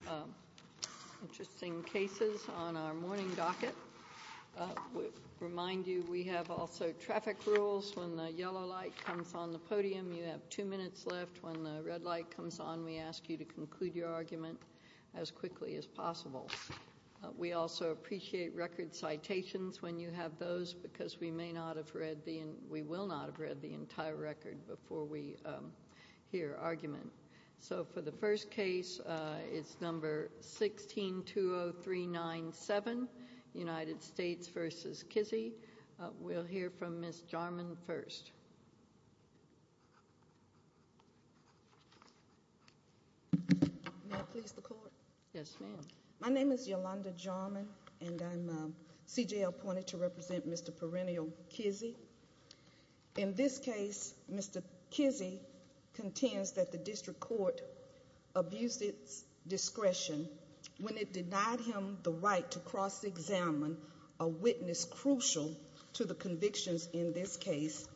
We have two interesting cases on our morning docket. We remind you we have also traffic rules. When the yellow light comes on the podium, you have two minutes left. When the red light comes on, we ask you to conclude your argument as quickly as possible. We also appreciate record citations when you have those because we may not have read the entire record before we hear argument. So for the first case, it's number 1620397, United States v. Kizzee. We'll hear from Ms. Jarman first. Yolanda Jarman, C.J.L. My name is Yolanda Jarman, and I'm C.J.L. appointed to represent Mr. Pereneal Kizzee. In this case, Mr. Kizzee contends that the district court abused its discretion when it denied him the right to cross-examine a witness crucial to the convictions in this case.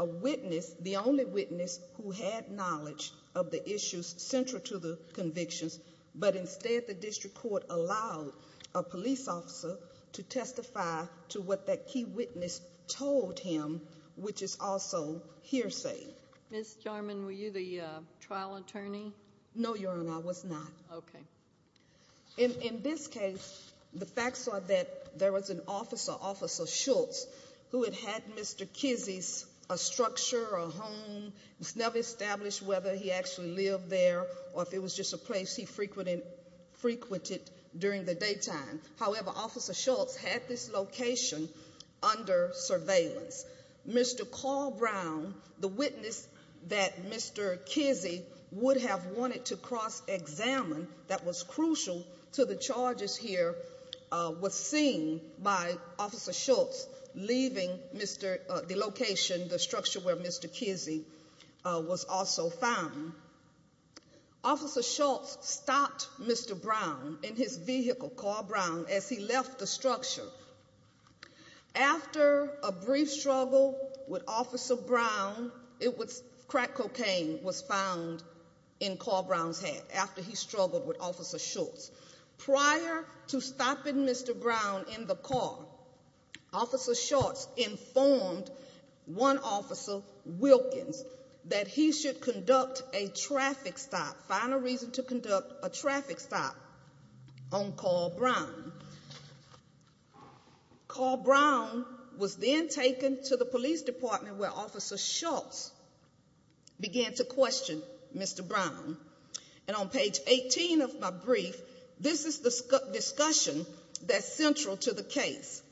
A witness, the only witness who had knowledge of the issues central to the convictions, but instead the district court allowed a police officer to testify to what that key witness told him, which is also hearsay. Ms. Jarman, were you the trial attorney? No, Your Honor, I was not. In this case, the facts are that there was an officer, Officer Schultz, who had had Mr. Kizzee's structure, a home. It was never established whether he actually lived there or if it was just a place he frequented during the daytime. However, Officer Schultz had this location under surveillance. Mr. Carl Brown, the witness that Mr. Kizzee would have wanted to cross-examine that was crucial to the charges here, was seen by Officer Schultz leaving the location, the structure where Mr. Kizzee was also found. At that time, Officer Schultz stopped Mr. Brown in his vehicle, Carl Brown, as he left the structure. After a brief struggle with Officer Brown, crack cocaine was found in Carl Brown's hand after he struggled with Officer Schultz. Prior to stopping Mr. Brown in the car, Officer Schultz informed one officer, Wilkins, that he should conduct a traffic stop, find a reason to conduct a traffic stop on Carl Brown. Carl Brown was then taken to the police department where Officer Schultz began to question Mr. Brown. And on page 18 of my brief, this is the discussion that's central to the case.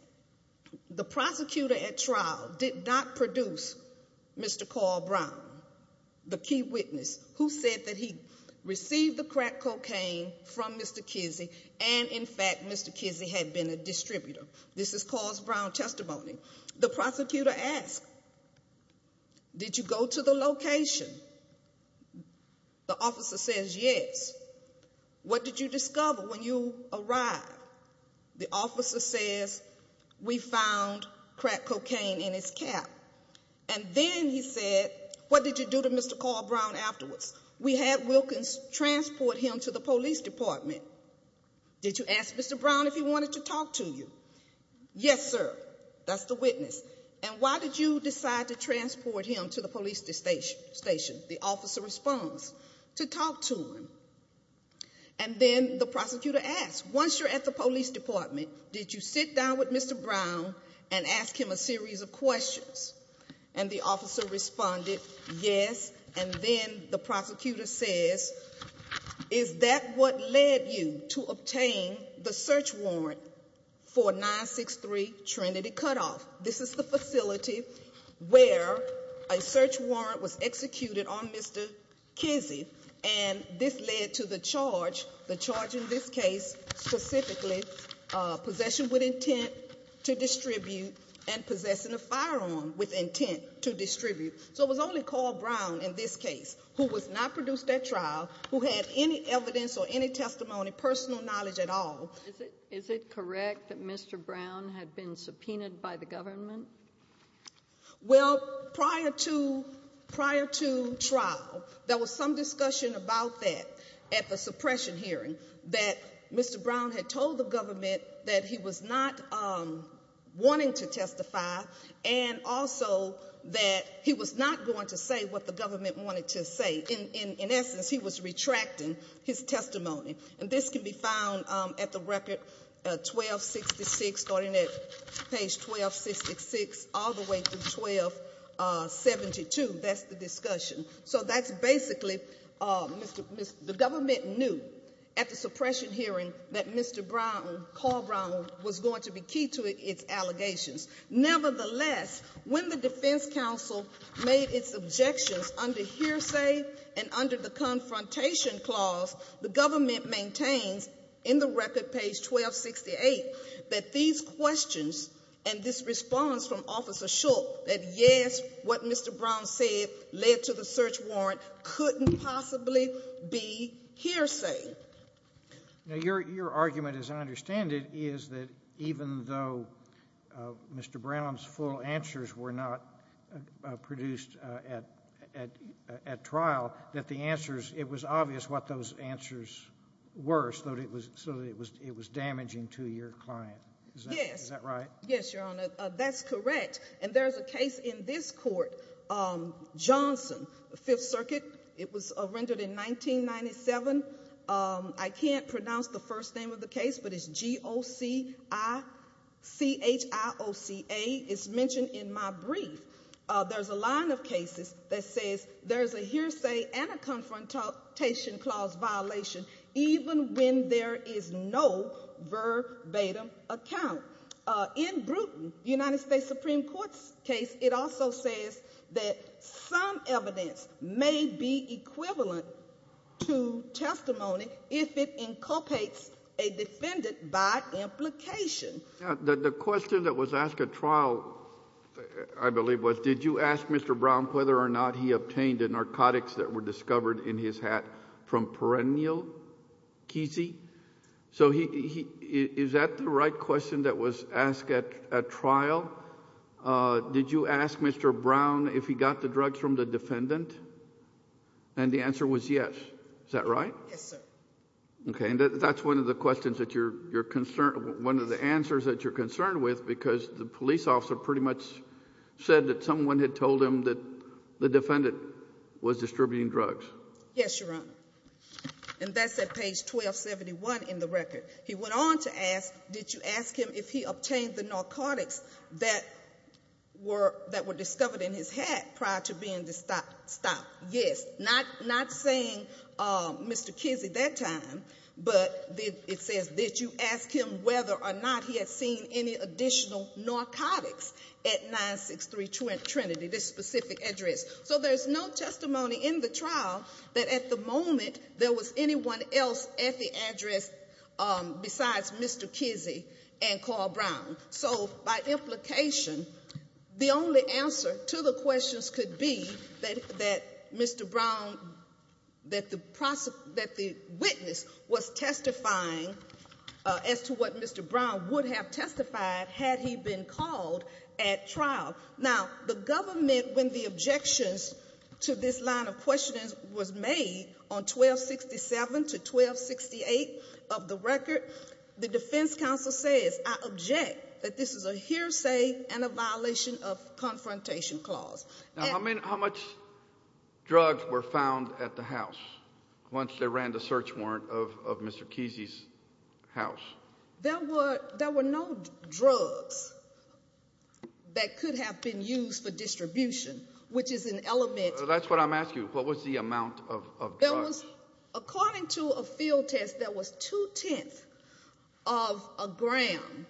The prosecutor at trial did not produce Mr. Carl Brown, the key witness, who said that he received the crack cocaine from Mr. Kizzee and, in fact, Mr. Kizzee had been a distributor. This is Carl Brown's testimony. The prosecutor asked, did you go to the location? The officer says, yes. What did you discover when you arrived? The officer says, we found crack cocaine in his cap. And then he said, what did you do to Mr. Carl Brown afterwards? We had Wilkins transport him to the police department. Did you ask Mr. Brown if he wanted to talk to you? Yes, sir. That's the witness. And why did you decide to transport him to the police station? The officer responds, to talk to him. And then the prosecutor asks, once you're at the police department, did you sit down with Mr. Brown and ask him a series of questions? And the officer responded, yes. And then the prosecutor says, is that what led you to the search warrant for 963 Trinity Cutoff? This is the facility where a search warrant was executed on Mr. Kizzee. And this led to the charge, the charge in this case specifically, possession with intent to distribute and possessing a firearm with intent to distribute. So it was only Carl Brown in this case who was not produced at trial, who had any evidence or any testimony, personal knowledge at all. Is it correct that Mr. Brown had been subpoenaed by the government? Well, prior to trial, there was some discussion about that at the suppression hearing that Mr. Brown had told the government that he was not wanting to testify and also that he was not going to say what the government wanted to say. In essence, he was retracting his testimony. And this can be found at the record 1266, starting at page 1266 all the way through 1272. That's the discussion. So that's basically, the government knew at the suppression hearing that Mr. Brown, Carl Brown, was going to be key to its allegations. Nevertheless, when the Defense Council made its objections under hearsay and under the Confrontation Clause, the government maintains in the record, page 1268, that these questions and this response from Officer Shook, that yes, what your argument, as I understand it, is that even though Mr. Brown's full answers were not produced at trial, that the answers, it was obvious what those answers were so that it was damaging to your client. Is that right? Yes, Your Honor. That's correct. And there's a case in this name of the case, but it's G-O-C-I-C-H-I-O-C-A. It's mentioned in my brief. There's a line of cases that says there's a hearsay and a Confrontation Clause violation even when there is no verbatim account. In Brewton, United States Supreme Court's case, it also says that some evidence may be a defendant by implication. The question that was asked at trial, I believe, was did you ask Mr. Brown whether or not he obtained the narcotics that were discovered in his hat from perennial Kesey? So is that the right question that was asked at trial? Did you ask Mr. Brown if he got the drugs from the defendant? And the answer was yes. Is that right? Yes, sir. Okay, and that's one of the questions that you're concerned with, one of the answers that you're concerned with, because the police officer pretty much said that someone had told him that the defendant was distributing drugs. Yes, Your Honor. And that's at page 1271 in the record. He went on to ask, did you ask him if he obtained the narcotics that were discovered in his hat prior to being stopped? Yes. Not saying Mr. Kesey that time, but it says did you ask him whether or not he had seen any additional narcotics at 963 Trinity, this specific address. So there's no testimony in the trial that at the moment there was anyone else at the address besides Mr. Kesey and Carl Brown. So by implication, the only answer to the questions could be that Mr. Brown, that the witness was testifying as to what Mr. Brown would have testified had he been called at trial. Now, the government, when the objections to this line of the record, the defense counsel says, I object that this is a hearsay and a violation of confrontation clause. Now, how much drugs were found at the house once they ran the search warrant of Mr. Kesey's house? There were no drugs that could have been used for distribution, which is an element. That's what I'm asking, what was the amount of drugs? According to a field test, there was two tenths of a gram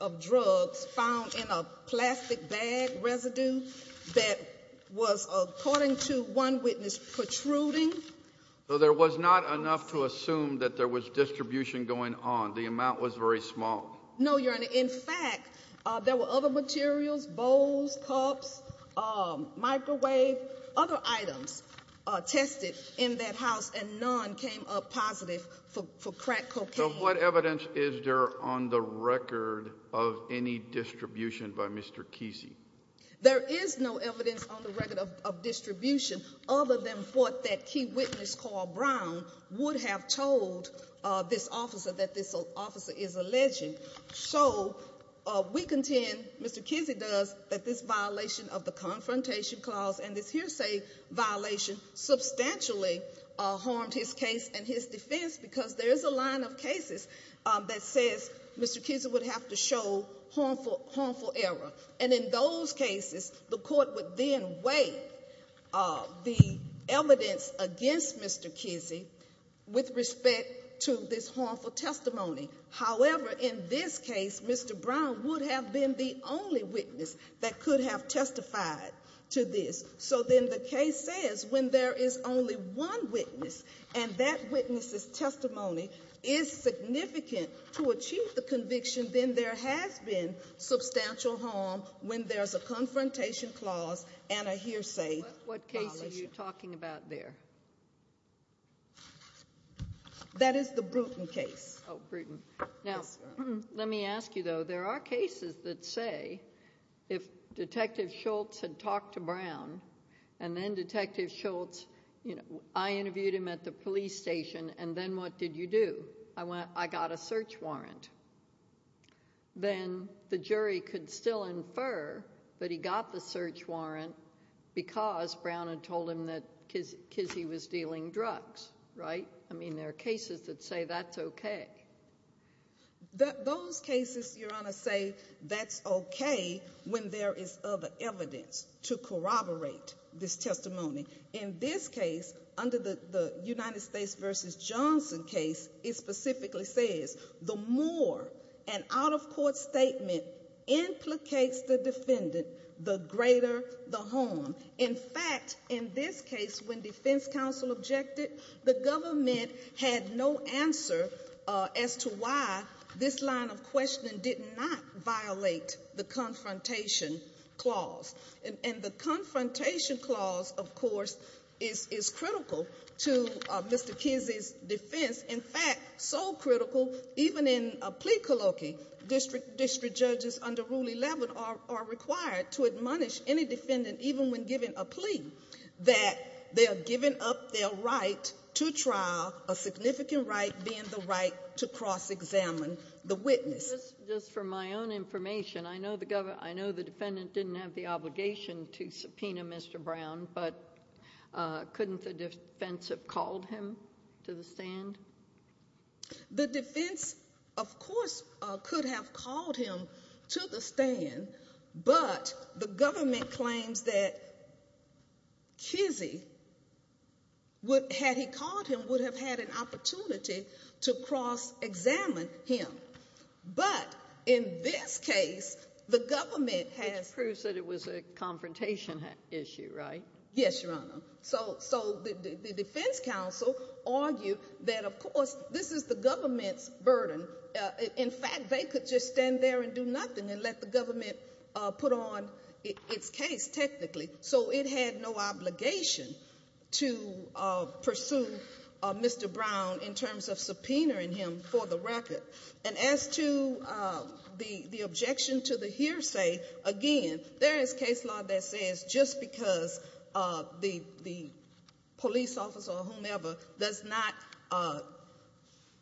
of drugs found in a plastic bag residue that was, according to one witness, protruding. So there was not enough to assume that there was distribution going on. The amount was very small. No, your honor. In fact, there were other materials, bowls, cups, microwave, other items tested in that house, and none came up positive for crack cocaine. So what evidence is there on the record of any distribution by Mr. Kesey? There is no evidence on the record of distribution other than what that key witness, Carl Brown, would have told this officer that this officer is alleging. So we contend, Mr. Kesey does, that this violation of the confrontation clause and this hearsay violation substantially harmed his case and his defense because there is a line of cases that says Mr. Kesey would have to show harmful error. And in those cases, the court would then weigh the evidence against Mr. Kesey with respect to this harmful testimony. However, in this case, Mr. Brown would have been the only witness that could have testified to this. So then the case says when there is only one witness and that witness's testimony is significant to achieve the conviction, then there has been substantial harm when there's a confrontation clause and a hearsay violation. What case are you talking about there? That is the Bruton case. Now, let me ask you, though, there are cases that say if Detective Schultz had talked to Brown and then Detective Schultz, you know, I interviewed him at the police station and then what did you do? I got a search warrant. Then the jury could still infer that he got the search warrant because Brown had told him that Kesey was dealing drugs, right? I mean, there are cases that say that's okay. Those cases, Your Honor, say that's okay when there is other evidence to corroborate this testimony. In this case, under the United States v. Johnson case, it specifically says the more an out-of-court statement implicates the defendant, the greater the harm. In fact, in this case, when defense counsel objected, the government had no answer as to why this line of questioning did not violate the confrontation clause. And the confrontation clause, of course, is critical to Mr. Kesey's defense. In fact, so critical, even in a plea colloquy, district judges under Rule 11 are required to admonish any defendant, even when giving a plea, that they're giving up their right to trial, a significant right being the right to cross-examine the witness. Just for my own information, I know the defendant didn't have the obligation to subpoena Mr. Brown, but couldn't the defense have called him to the stand? The defense, of course, could have called him to the stand, but the government claims that Kesey, had he called him, would have had an opportunity to cross-examine him. But in this case, the government has— Which proves that it was a confrontation issue, right? Yes, Your Honor. So the defense counsel argued that, of course, this is the government's burden. In fact, they could just stand there and do nothing and let the government put on its case, technically. So it had no obligation to pursue Mr. Brown in terms of subpoenaing him for the record. And as to the objection to the hearsay, again, there is case law that says just because the police officer or whomever does not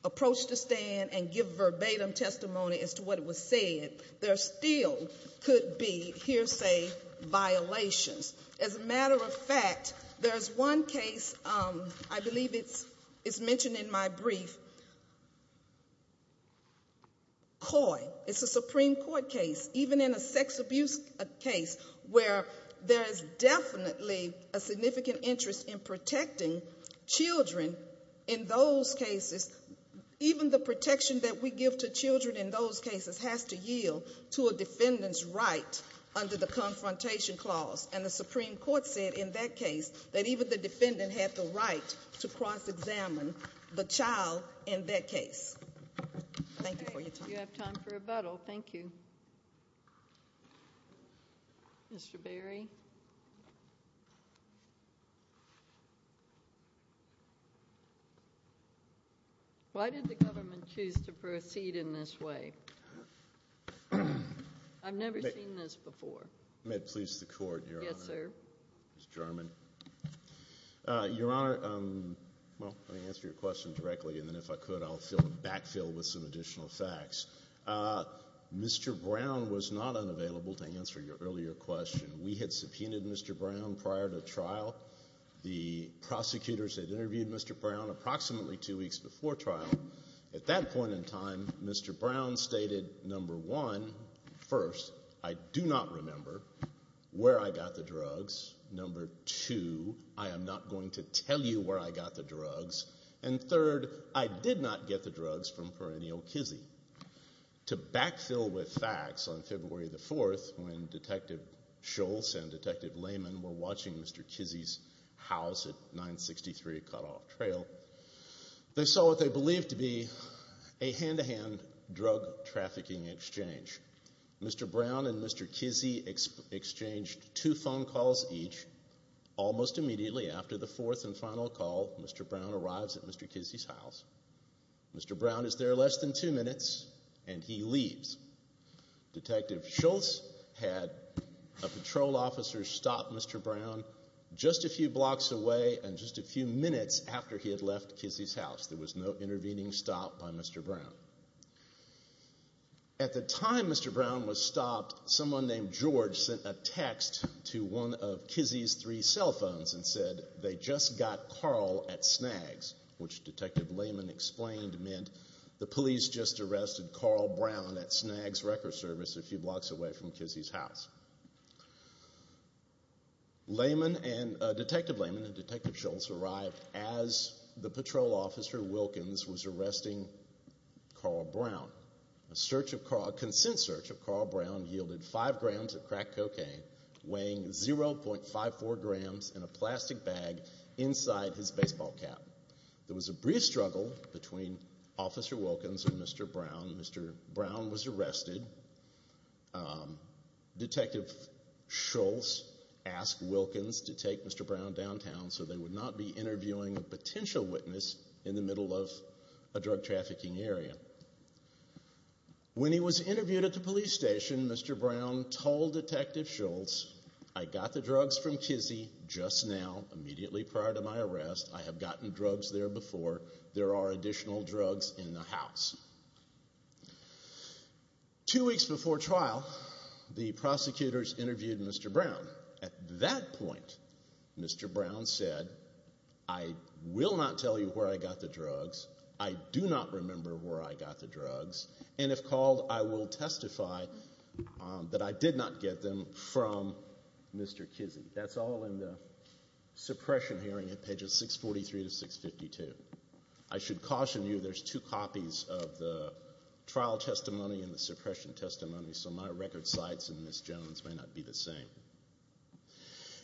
approach the stand and give verbatim testimony as to what As a matter of fact, there's one case, I believe it's mentioned in my brief, Coy. It's a Supreme Court case, even in a sex abuse case, where there is definitely a significant interest in protecting children in those cases. Even the protection that we give to And the Supreme Court said in that case that even the defendant had the right to cross-examine the child in that case. Thank you for your time. If you have time for rebuttal, thank you. Mr. Berry? Why did the government choose to proceed in this way? I've never seen this before. May it please the Court, Your Honor? Yes, sir. Ms. German? Your Honor, well, let me answer your question directly, and then if I could, I'll backfill with some additional facts. Mr. Brown was not unavailable to answer your earlier question. We had subpoenaed Mr. Brown prior to trial. The prosecutors had interviewed Mr. Brown approximately two weeks before trial. At that point in time, Mr. Brown stated, number one, first, I do not remember where I got the drugs. Number two, I am not going to tell you where I got the drugs. And third, I did not get the drugs from perennial Kizzee. To backfill with facts, on February the 4th, when Detective Schultz and Detective Lehman were watching Mr. Kizzee's house at 963 Cut-Off Trail, they saw what they believed to be a hand-to-hand drug trafficking exchange. Mr. Brown and Mr. Kizzee exchanged two phone calls each. Almost immediately after the fourth and final call, Mr. Brown arrives at Mr. Kizzee's house. Mr. Brown is there less than two minutes, and he leaves. Detective Schultz had a patrol officer stop Mr. Brown just a few blocks away and just a few minutes after he had left Kizzee's house. There was no intervening stop by Mr. Brown. At the time Mr. Brown was stopped, someone named George sent a text to one of Kizzee's three cell phones and said they just got Carl at Snaggs, which Detective Lehman explained meant the police just arrested Carl Brown at Snaggs Record Service a few blocks away from Kizzee's house. Detective Lehman and Detective Schultz arrived as the patrol officer Wilkins was Carl Brown. A search of Carl, a consent search of Carl Brown yielded five grams of crack cocaine weighing 0.54 grams in a plastic bag inside his baseball cap. There was a brief struggle between Officer Wilkins and Mr. Brown. Mr. Brown was arrested. Detective Schultz asked Wilkins to take Mr. Brown downtown so they would not be interviewing a potential witness in the middle of drug trafficking area. When he was interviewed at the police station, Mr. Brown told Detective Schultz, I got the drugs from Kizzee just now, immediately prior to my arrest. I have gotten drugs there before. There are additional drugs in the house. Two weeks before trial, the prosecutors interviewed Mr. Brown. At that point, Mr. Brown said, I will not tell you where I got the drugs. I do not remember where I got the drugs. And if called, I will testify that I did not get them from Mr. Kizzee. That's all in the suppression hearing at pages 643 to 652. I should caution you there's two copies of the trial testimony and the suppression testimony, so my record sites and Ms. Jones may not be the same.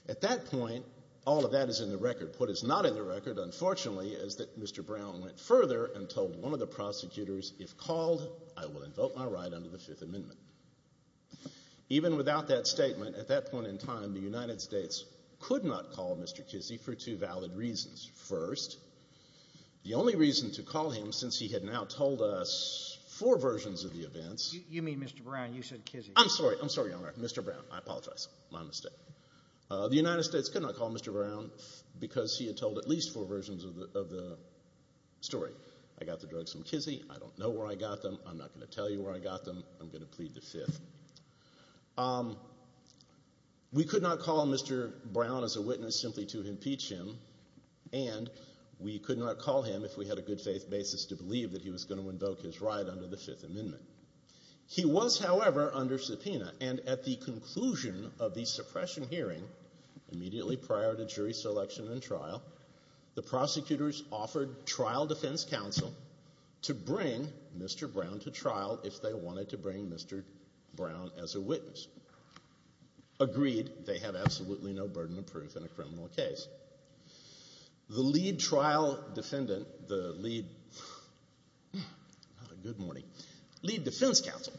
At that point, all of that is in the record. What is not in the record is the testimony of Mr. Kizzee. He went further and told one of the prosecutors, if called, I will invoke my right under the Fifth Amendment. Even without that statement, at that point in time, the United States could not call Mr. Kizzee for two valid reasons. First, the only reason to call him since he had now told us four versions of the events. You mean Mr. Brown, you said Kizzee. I'm sorry, I'm sorry, Mr. Brown, I apologize, my mistake. The United States could not call Mr. Brown. And that is the purpose of the story. I got the drugs from Kizzee. I don't know where I got them. I'm not going to tell you where I got them. I'm going to plead the Fifth. We could not call Mr. Brown as a witness simply to impeach him, and we could not call him if we had a good faith basis to believe that he was going to invoke his right under the Fifth Amendment. He was, however, under subpoena and at the conclusion of the suppression hearing, immediately prior to jury selection and trial, the prosecutors offered trial defense counsel to bring Mr. Brown to trial if they wanted to bring Mr. Brown as a witness. Agreed, they have absolutely no burden of proof in a criminal case. The lead trial defendant, the lead defense counsel,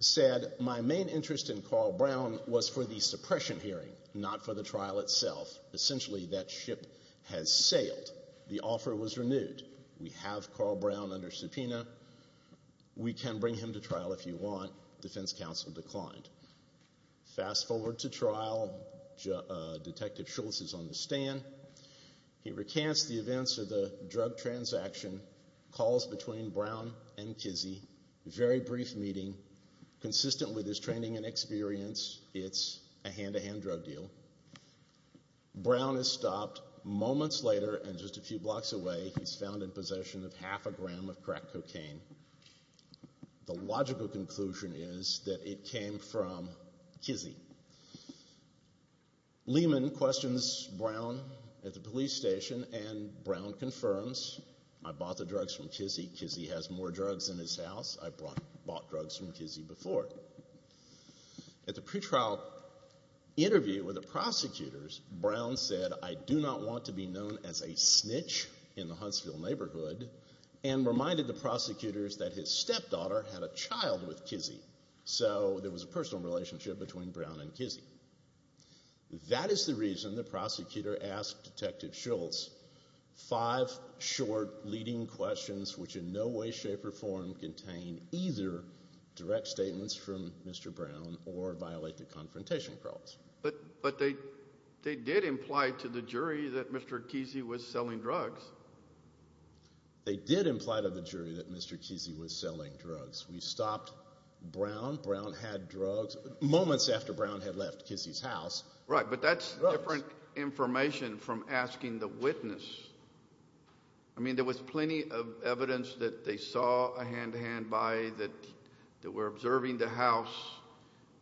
said, my main interest in Carl Brown was for the suppression hearing, not for the trial itself. Essentially, that ship has sailed. The offer was renewed. We have Carl Brown under subpoena. We can bring him to trial if you want. Defense counsel declined. Fast forward to trial. Detective Schultz is on the stand. He recants the events of the experience. It's a hand-to-hand drug deal. Brown is stopped moments later and just a few blocks away. He's found in possession of half a gram of crack cocaine. The logical conclusion is that it came from Kizzy. Lehman questions Brown at the police station and Brown confirms, I bought the drugs from Kizzy. Kizzy has more drugs in his house. I bought drugs from Kizzy before. At the pre-trial interview with the prosecutors, Brown said, I do not want to be known as a snitch in the Huntsville neighborhood and reminded the prosecutors that his stepdaughter had a child with Kizzy. So there was a personal relationship between Brown and Kizzy. That is the reason the prosecutor asked Detective Schultz five short leading questions which in no way, shape, or form contain either direct statements from Mr. Brown or violate the confrontation clause. But they did imply to the jury that Mr. Kizzy was selling drugs. They did imply to the jury that Mr. Kizzy was selling drugs. We stopped Brown. Brown had drugs moments after Brown had left Kizzy's house. Right, but that's different information from asking the hand-to-hand by that we're observing the house,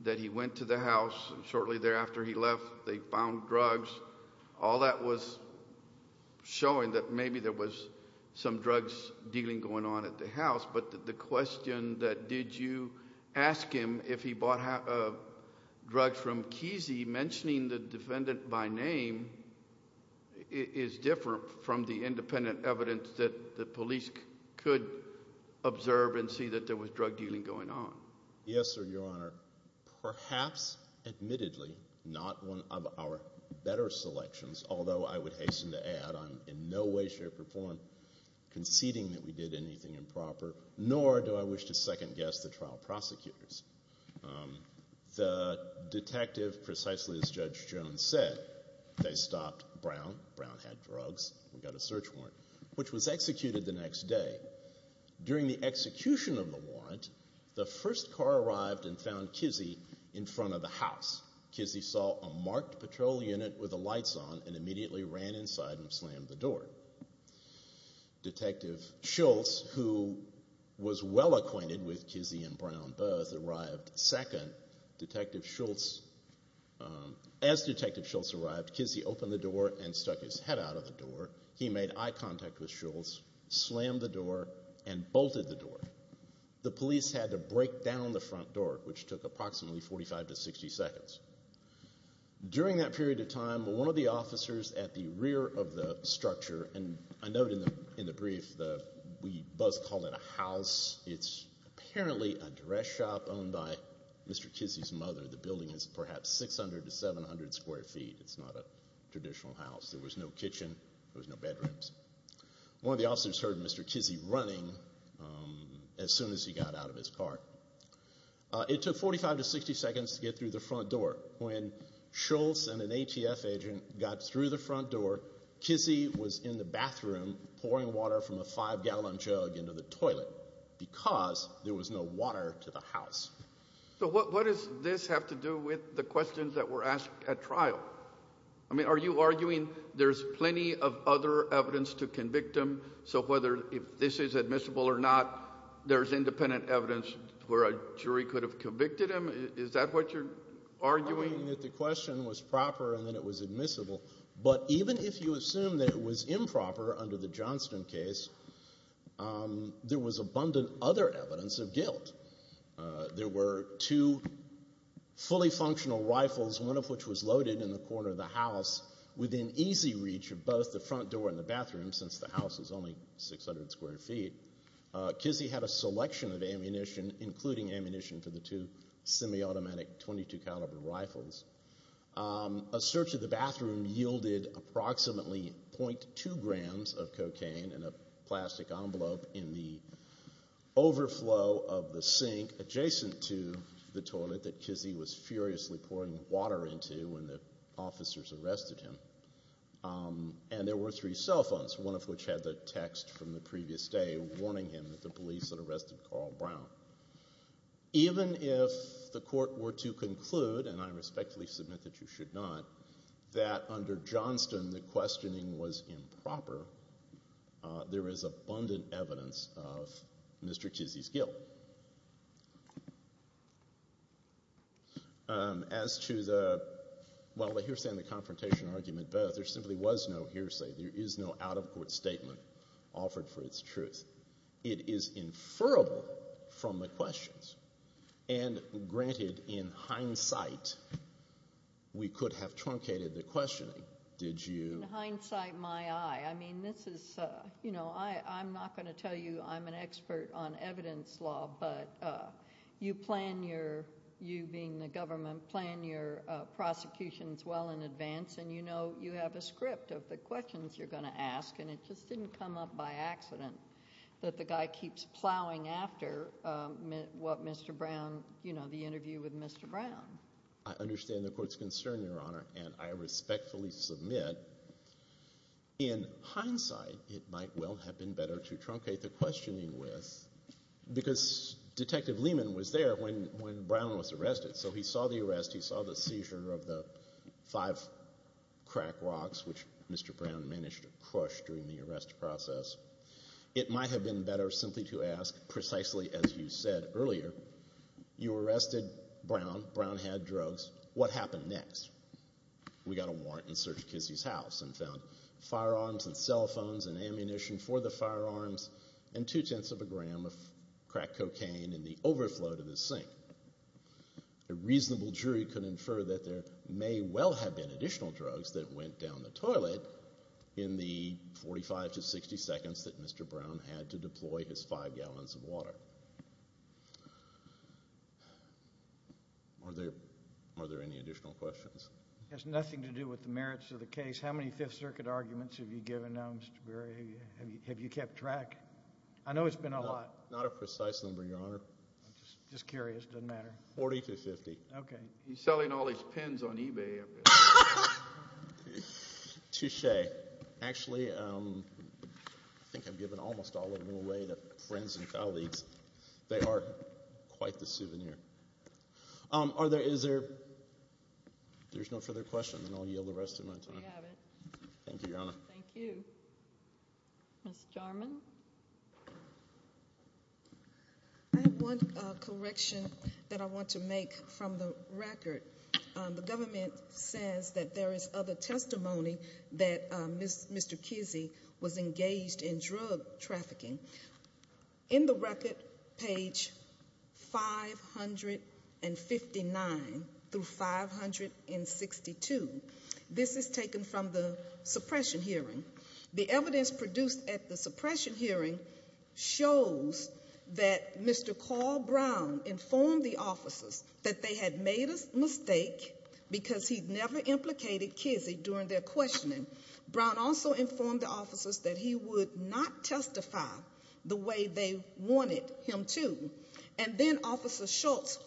that he went to the house and shortly thereafter he left, they found drugs. All that was showing that maybe there was some drugs dealing going on at the house. But the question that did you ask him if he bought drugs from Kizzy, mentioning the defendant by name, is different from the independent evidence that the police could observe and see that there was drug dealing going on. Yes, sir, your honor. Perhaps, admittedly, not one of our better selections, although I would hasten to add I'm in no way, shape, or form conceding that we did anything improper, nor do I wish to second-guess the trial prosecutors. The detective, precisely as Judge Jones said, they stopped Brown. Brown had drugs, we got a search warrant, which was executed the next day. During the execution of the warrant, the first car arrived and found Kizzy in front of the house. Kizzy saw a marked patrol unit with the lights on and immediately ran inside and slammed the door. Detective Schultz, who was well acquainted with Kizzy and Brown both, arrived second. As Detective Schultz arrived, Kizzy opened the door and stuck his head out of the door. He made eye contact with Schultz, slammed the door, and bolted the door. The police had to break down the front door, which took approximately 45 to 60 seconds. During that period of time, one of the officers at the rear of the structure, and I note in the brief that we both call it a house, it's apparently a dress shop owned by Mr. Kizzy's mother. The building is perhaps 600 to 700 square feet. It's not a traditional house. There was no kitchen, there was no bedrooms. One of the officers heard Mr. Kizzy running as soon as he got out of his car. It took 45 to 60 seconds to get the front door. When Schultz and an ATF agent got through the front door, Kizzy was in the bathroom pouring water from a five-gallon jug into the toilet because there was no water to the house. So what does this have to do with the questions that were asked at trial? I mean, are you arguing there's plenty of other evidence to convict him? So whether if this is admissible or not, there's independent evidence where a jury could have convicted him? Is that what you're arguing? I'm arguing that the question was proper and that it was admissible, but even if you assume that it was improper under the Johnston case, there was abundant other evidence of guilt. There were two fully functional rifles, one of which was loaded in the corner of the house within easy reach of both the front door and the bathroom, since the house is only 600 square feet. Kizzy had a selection of ammunition, including ammunition for the two semi-automatic .22 caliber rifles. A search of the bathroom yielded approximately .2 grams of cocaine in a plastic envelope in the overflow of the sink adjacent to the toilet that Kizzy was furiously pouring water into when the officers arrested him. And there were three cell phones, one of which had the text from the previous day warning him that the police had arrested Carl Brown. Even if the court were to conclude, and I respectfully submit that you should not, that under Johnston the questioning was improper, there is abundant evidence of Mr. Kizzy's guilt. As to the, well, the hearsay and the confrontation argument both, there simply was no hearsay, there is no out-of-court statement offered for its truth. It is inferrable from the questions, and granted, in hindsight, we could have truncated the questioning. Did you? In hindsight, my eye. I mean, this is, you know, I'm not going to tell you I'm an expert on evidence law, but you plan your, you being the government, plan your prosecutions well in advance, and you know you have a script of the questions you're going to ask, and it just didn't come up by accident that the guy keeps plowing after what Mr. Brown, you know, the interview with Mr. Brown. I understand the court's concern, Your Honor, and I respectfully submit, in hindsight, it might well have been better to truncate the questioning with, because Detective Lehman was there when Brown was arrested, so he saw the arrest, he saw the seizure of the five crack rocks, which Mr. Brown managed to crush during the arrest process. It might have been better simply to ask, precisely as you said earlier, you arrested Brown, Brown had drugs, what happened next? We got a warrant and searched Kissy's house and found firearms and cell phones and ammunition for the firearms and two-tenths of a gram of crack cocaine in the overflow to the sink. A reasonable jury could infer that there may well have been additional drugs that went down the his five gallons of water. Are there any additional questions? It has nothing to do with the merits of the case. How many Fifth Circuit arguments have you given now, Mr. Berry? Have you kept track? I know it's been a lot. Not a precise number, Your Honor. I'm just curious, doesn't matter. Forty to fifty. Okay. He's selling all his pens on eBay. Touche. Actually, I think I've given almost all of them away to friends and colleagues. They are quite the souvenir. Are there, is there, there's no further questions and I'll yield the rest of my time. Thank you, Your Honor. Thank you. Ms. Jarman. I have one correction that I want to make from the record. The government says that there is other testimony that Mr. Kissy was engaged in drug trafficking. In the record, page 559 through 562, this is taken from the suppression hearing. The evidence produced at the suppression hearing shows that Mr. Carl Brown informed the officers that they had made a mistake because he never implicated Kissy during their questioning. Brown also informed the officers that he would not testify the way they wanted him to. And then Officer Schultz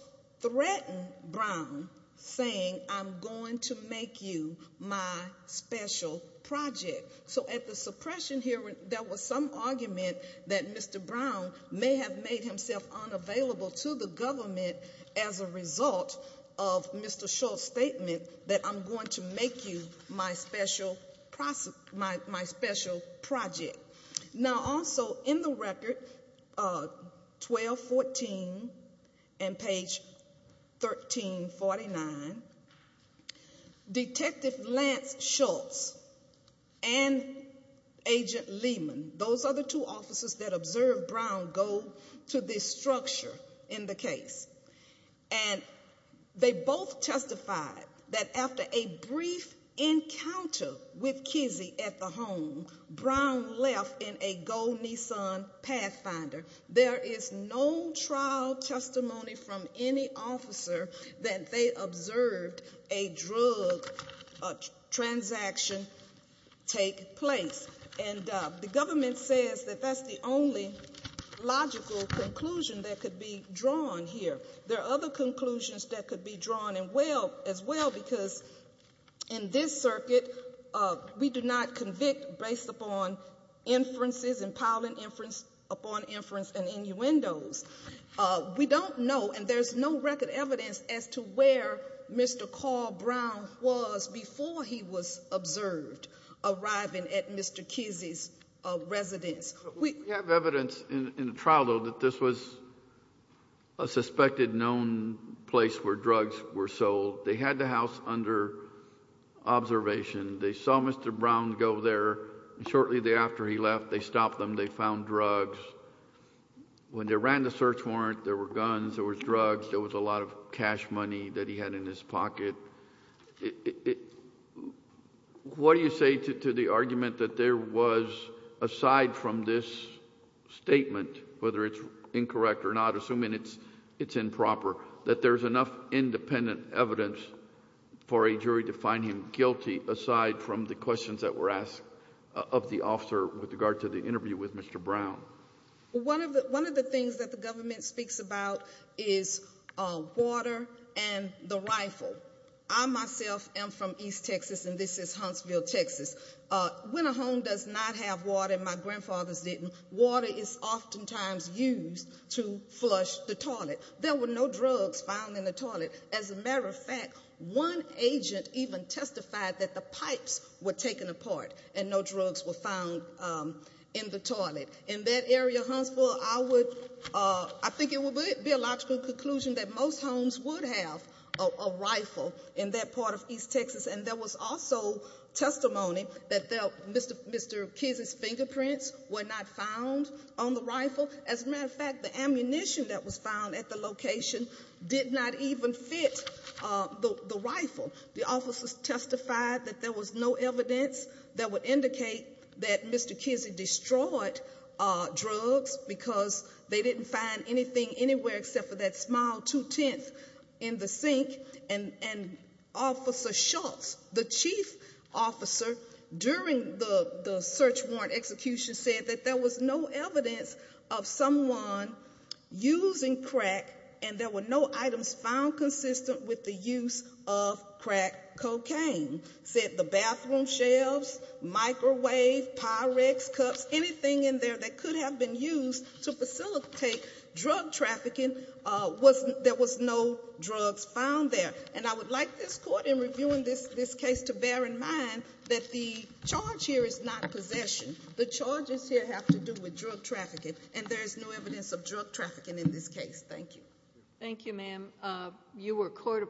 threatened Brown saying, I'm going to make you my special project. So at the suppression hearing, there was some argument that Mr. Brown may have made himself unavailable to the government as a result of Mr. Schultz's statement that I'm going to make you my special project. Now also in the record, 1214 and page 1349, Detective Lance Schultz and Agent Lehman, those are the two officers that observed Brown go to this structure in the case. And they both testified that after a brief encounter with Kissy at the home, Brown left in a gold Nissan Pathfinder. There is no trial testimony from any officer that they observed a drug transaction take place. And the government says that that's the only logical conclusion that could be drawn here. There are other conclusions that could be drawn as well because in this circuit, we do not convict based upon inferences, impounding inference upon inference and innuendos. We don't know and there's no record evidence as to where Mr. Carl Brown was before he was observed arriving at Mr. Kissy's residence. We have evidence in the trial though that this was a suspected known place where drugs were sold. They had the house under observation. They saw Mr. Brown go there. Shortly thereafter, he left. They stopped them. They found drugs. When they ran the search warrant, there were guns, there were drugs, there was a lot of cash money that he had in his pocket. What do you say to the argument that there was, aside from this statement, whether it's incorrect or not, assuming it's improper, that there's enough independent evidence for a jury to find him guilty aside from the questions that were asked of the officer with regard to the interview with Mr. Brown? One of the things that the government speaks about is water and the rifle. I myself am from East Texas. When a home does not have water, my grandfathers didn't, water is oftentimes used to flush the toilet. There were no drugs found in the toilet. As a matter of fact, one agent even testified that the pipes were taken apart and no drugs were found in the toilet. In that area, Huntsville, I think it would be a logical conclusion that most homes would have a rifle in that part of East Texas. There was also testimony that Mr. Kizzy's fingerprints were not found on the rifle. As a matter of fact, the ammunition that was found at the location did not even fit the rifle. The officers testified that there was no evidence that would indicate that Mr. Kizzy destroyed drugs because they didn't find anything anywhere except for that small two-tenth in the sink. And Officer Schultz, the chief officer during the search warrant execution said that there was no evidence of someone using crack and there were no items found consistent with the use of crack cocaine. Said the bathroom shelves, microwave, Pyrex cups, anything in there that could have been used to facilitate drug trafficking, there was no drugs found there. And I would like this court, in reviewing this case, to bear in mind that the charge here is not possession. The charges here have to do with drug trafficking and there is no evidence of drug trafficking in this case. Thank you. Thank you, ma'am. You were court-appointed.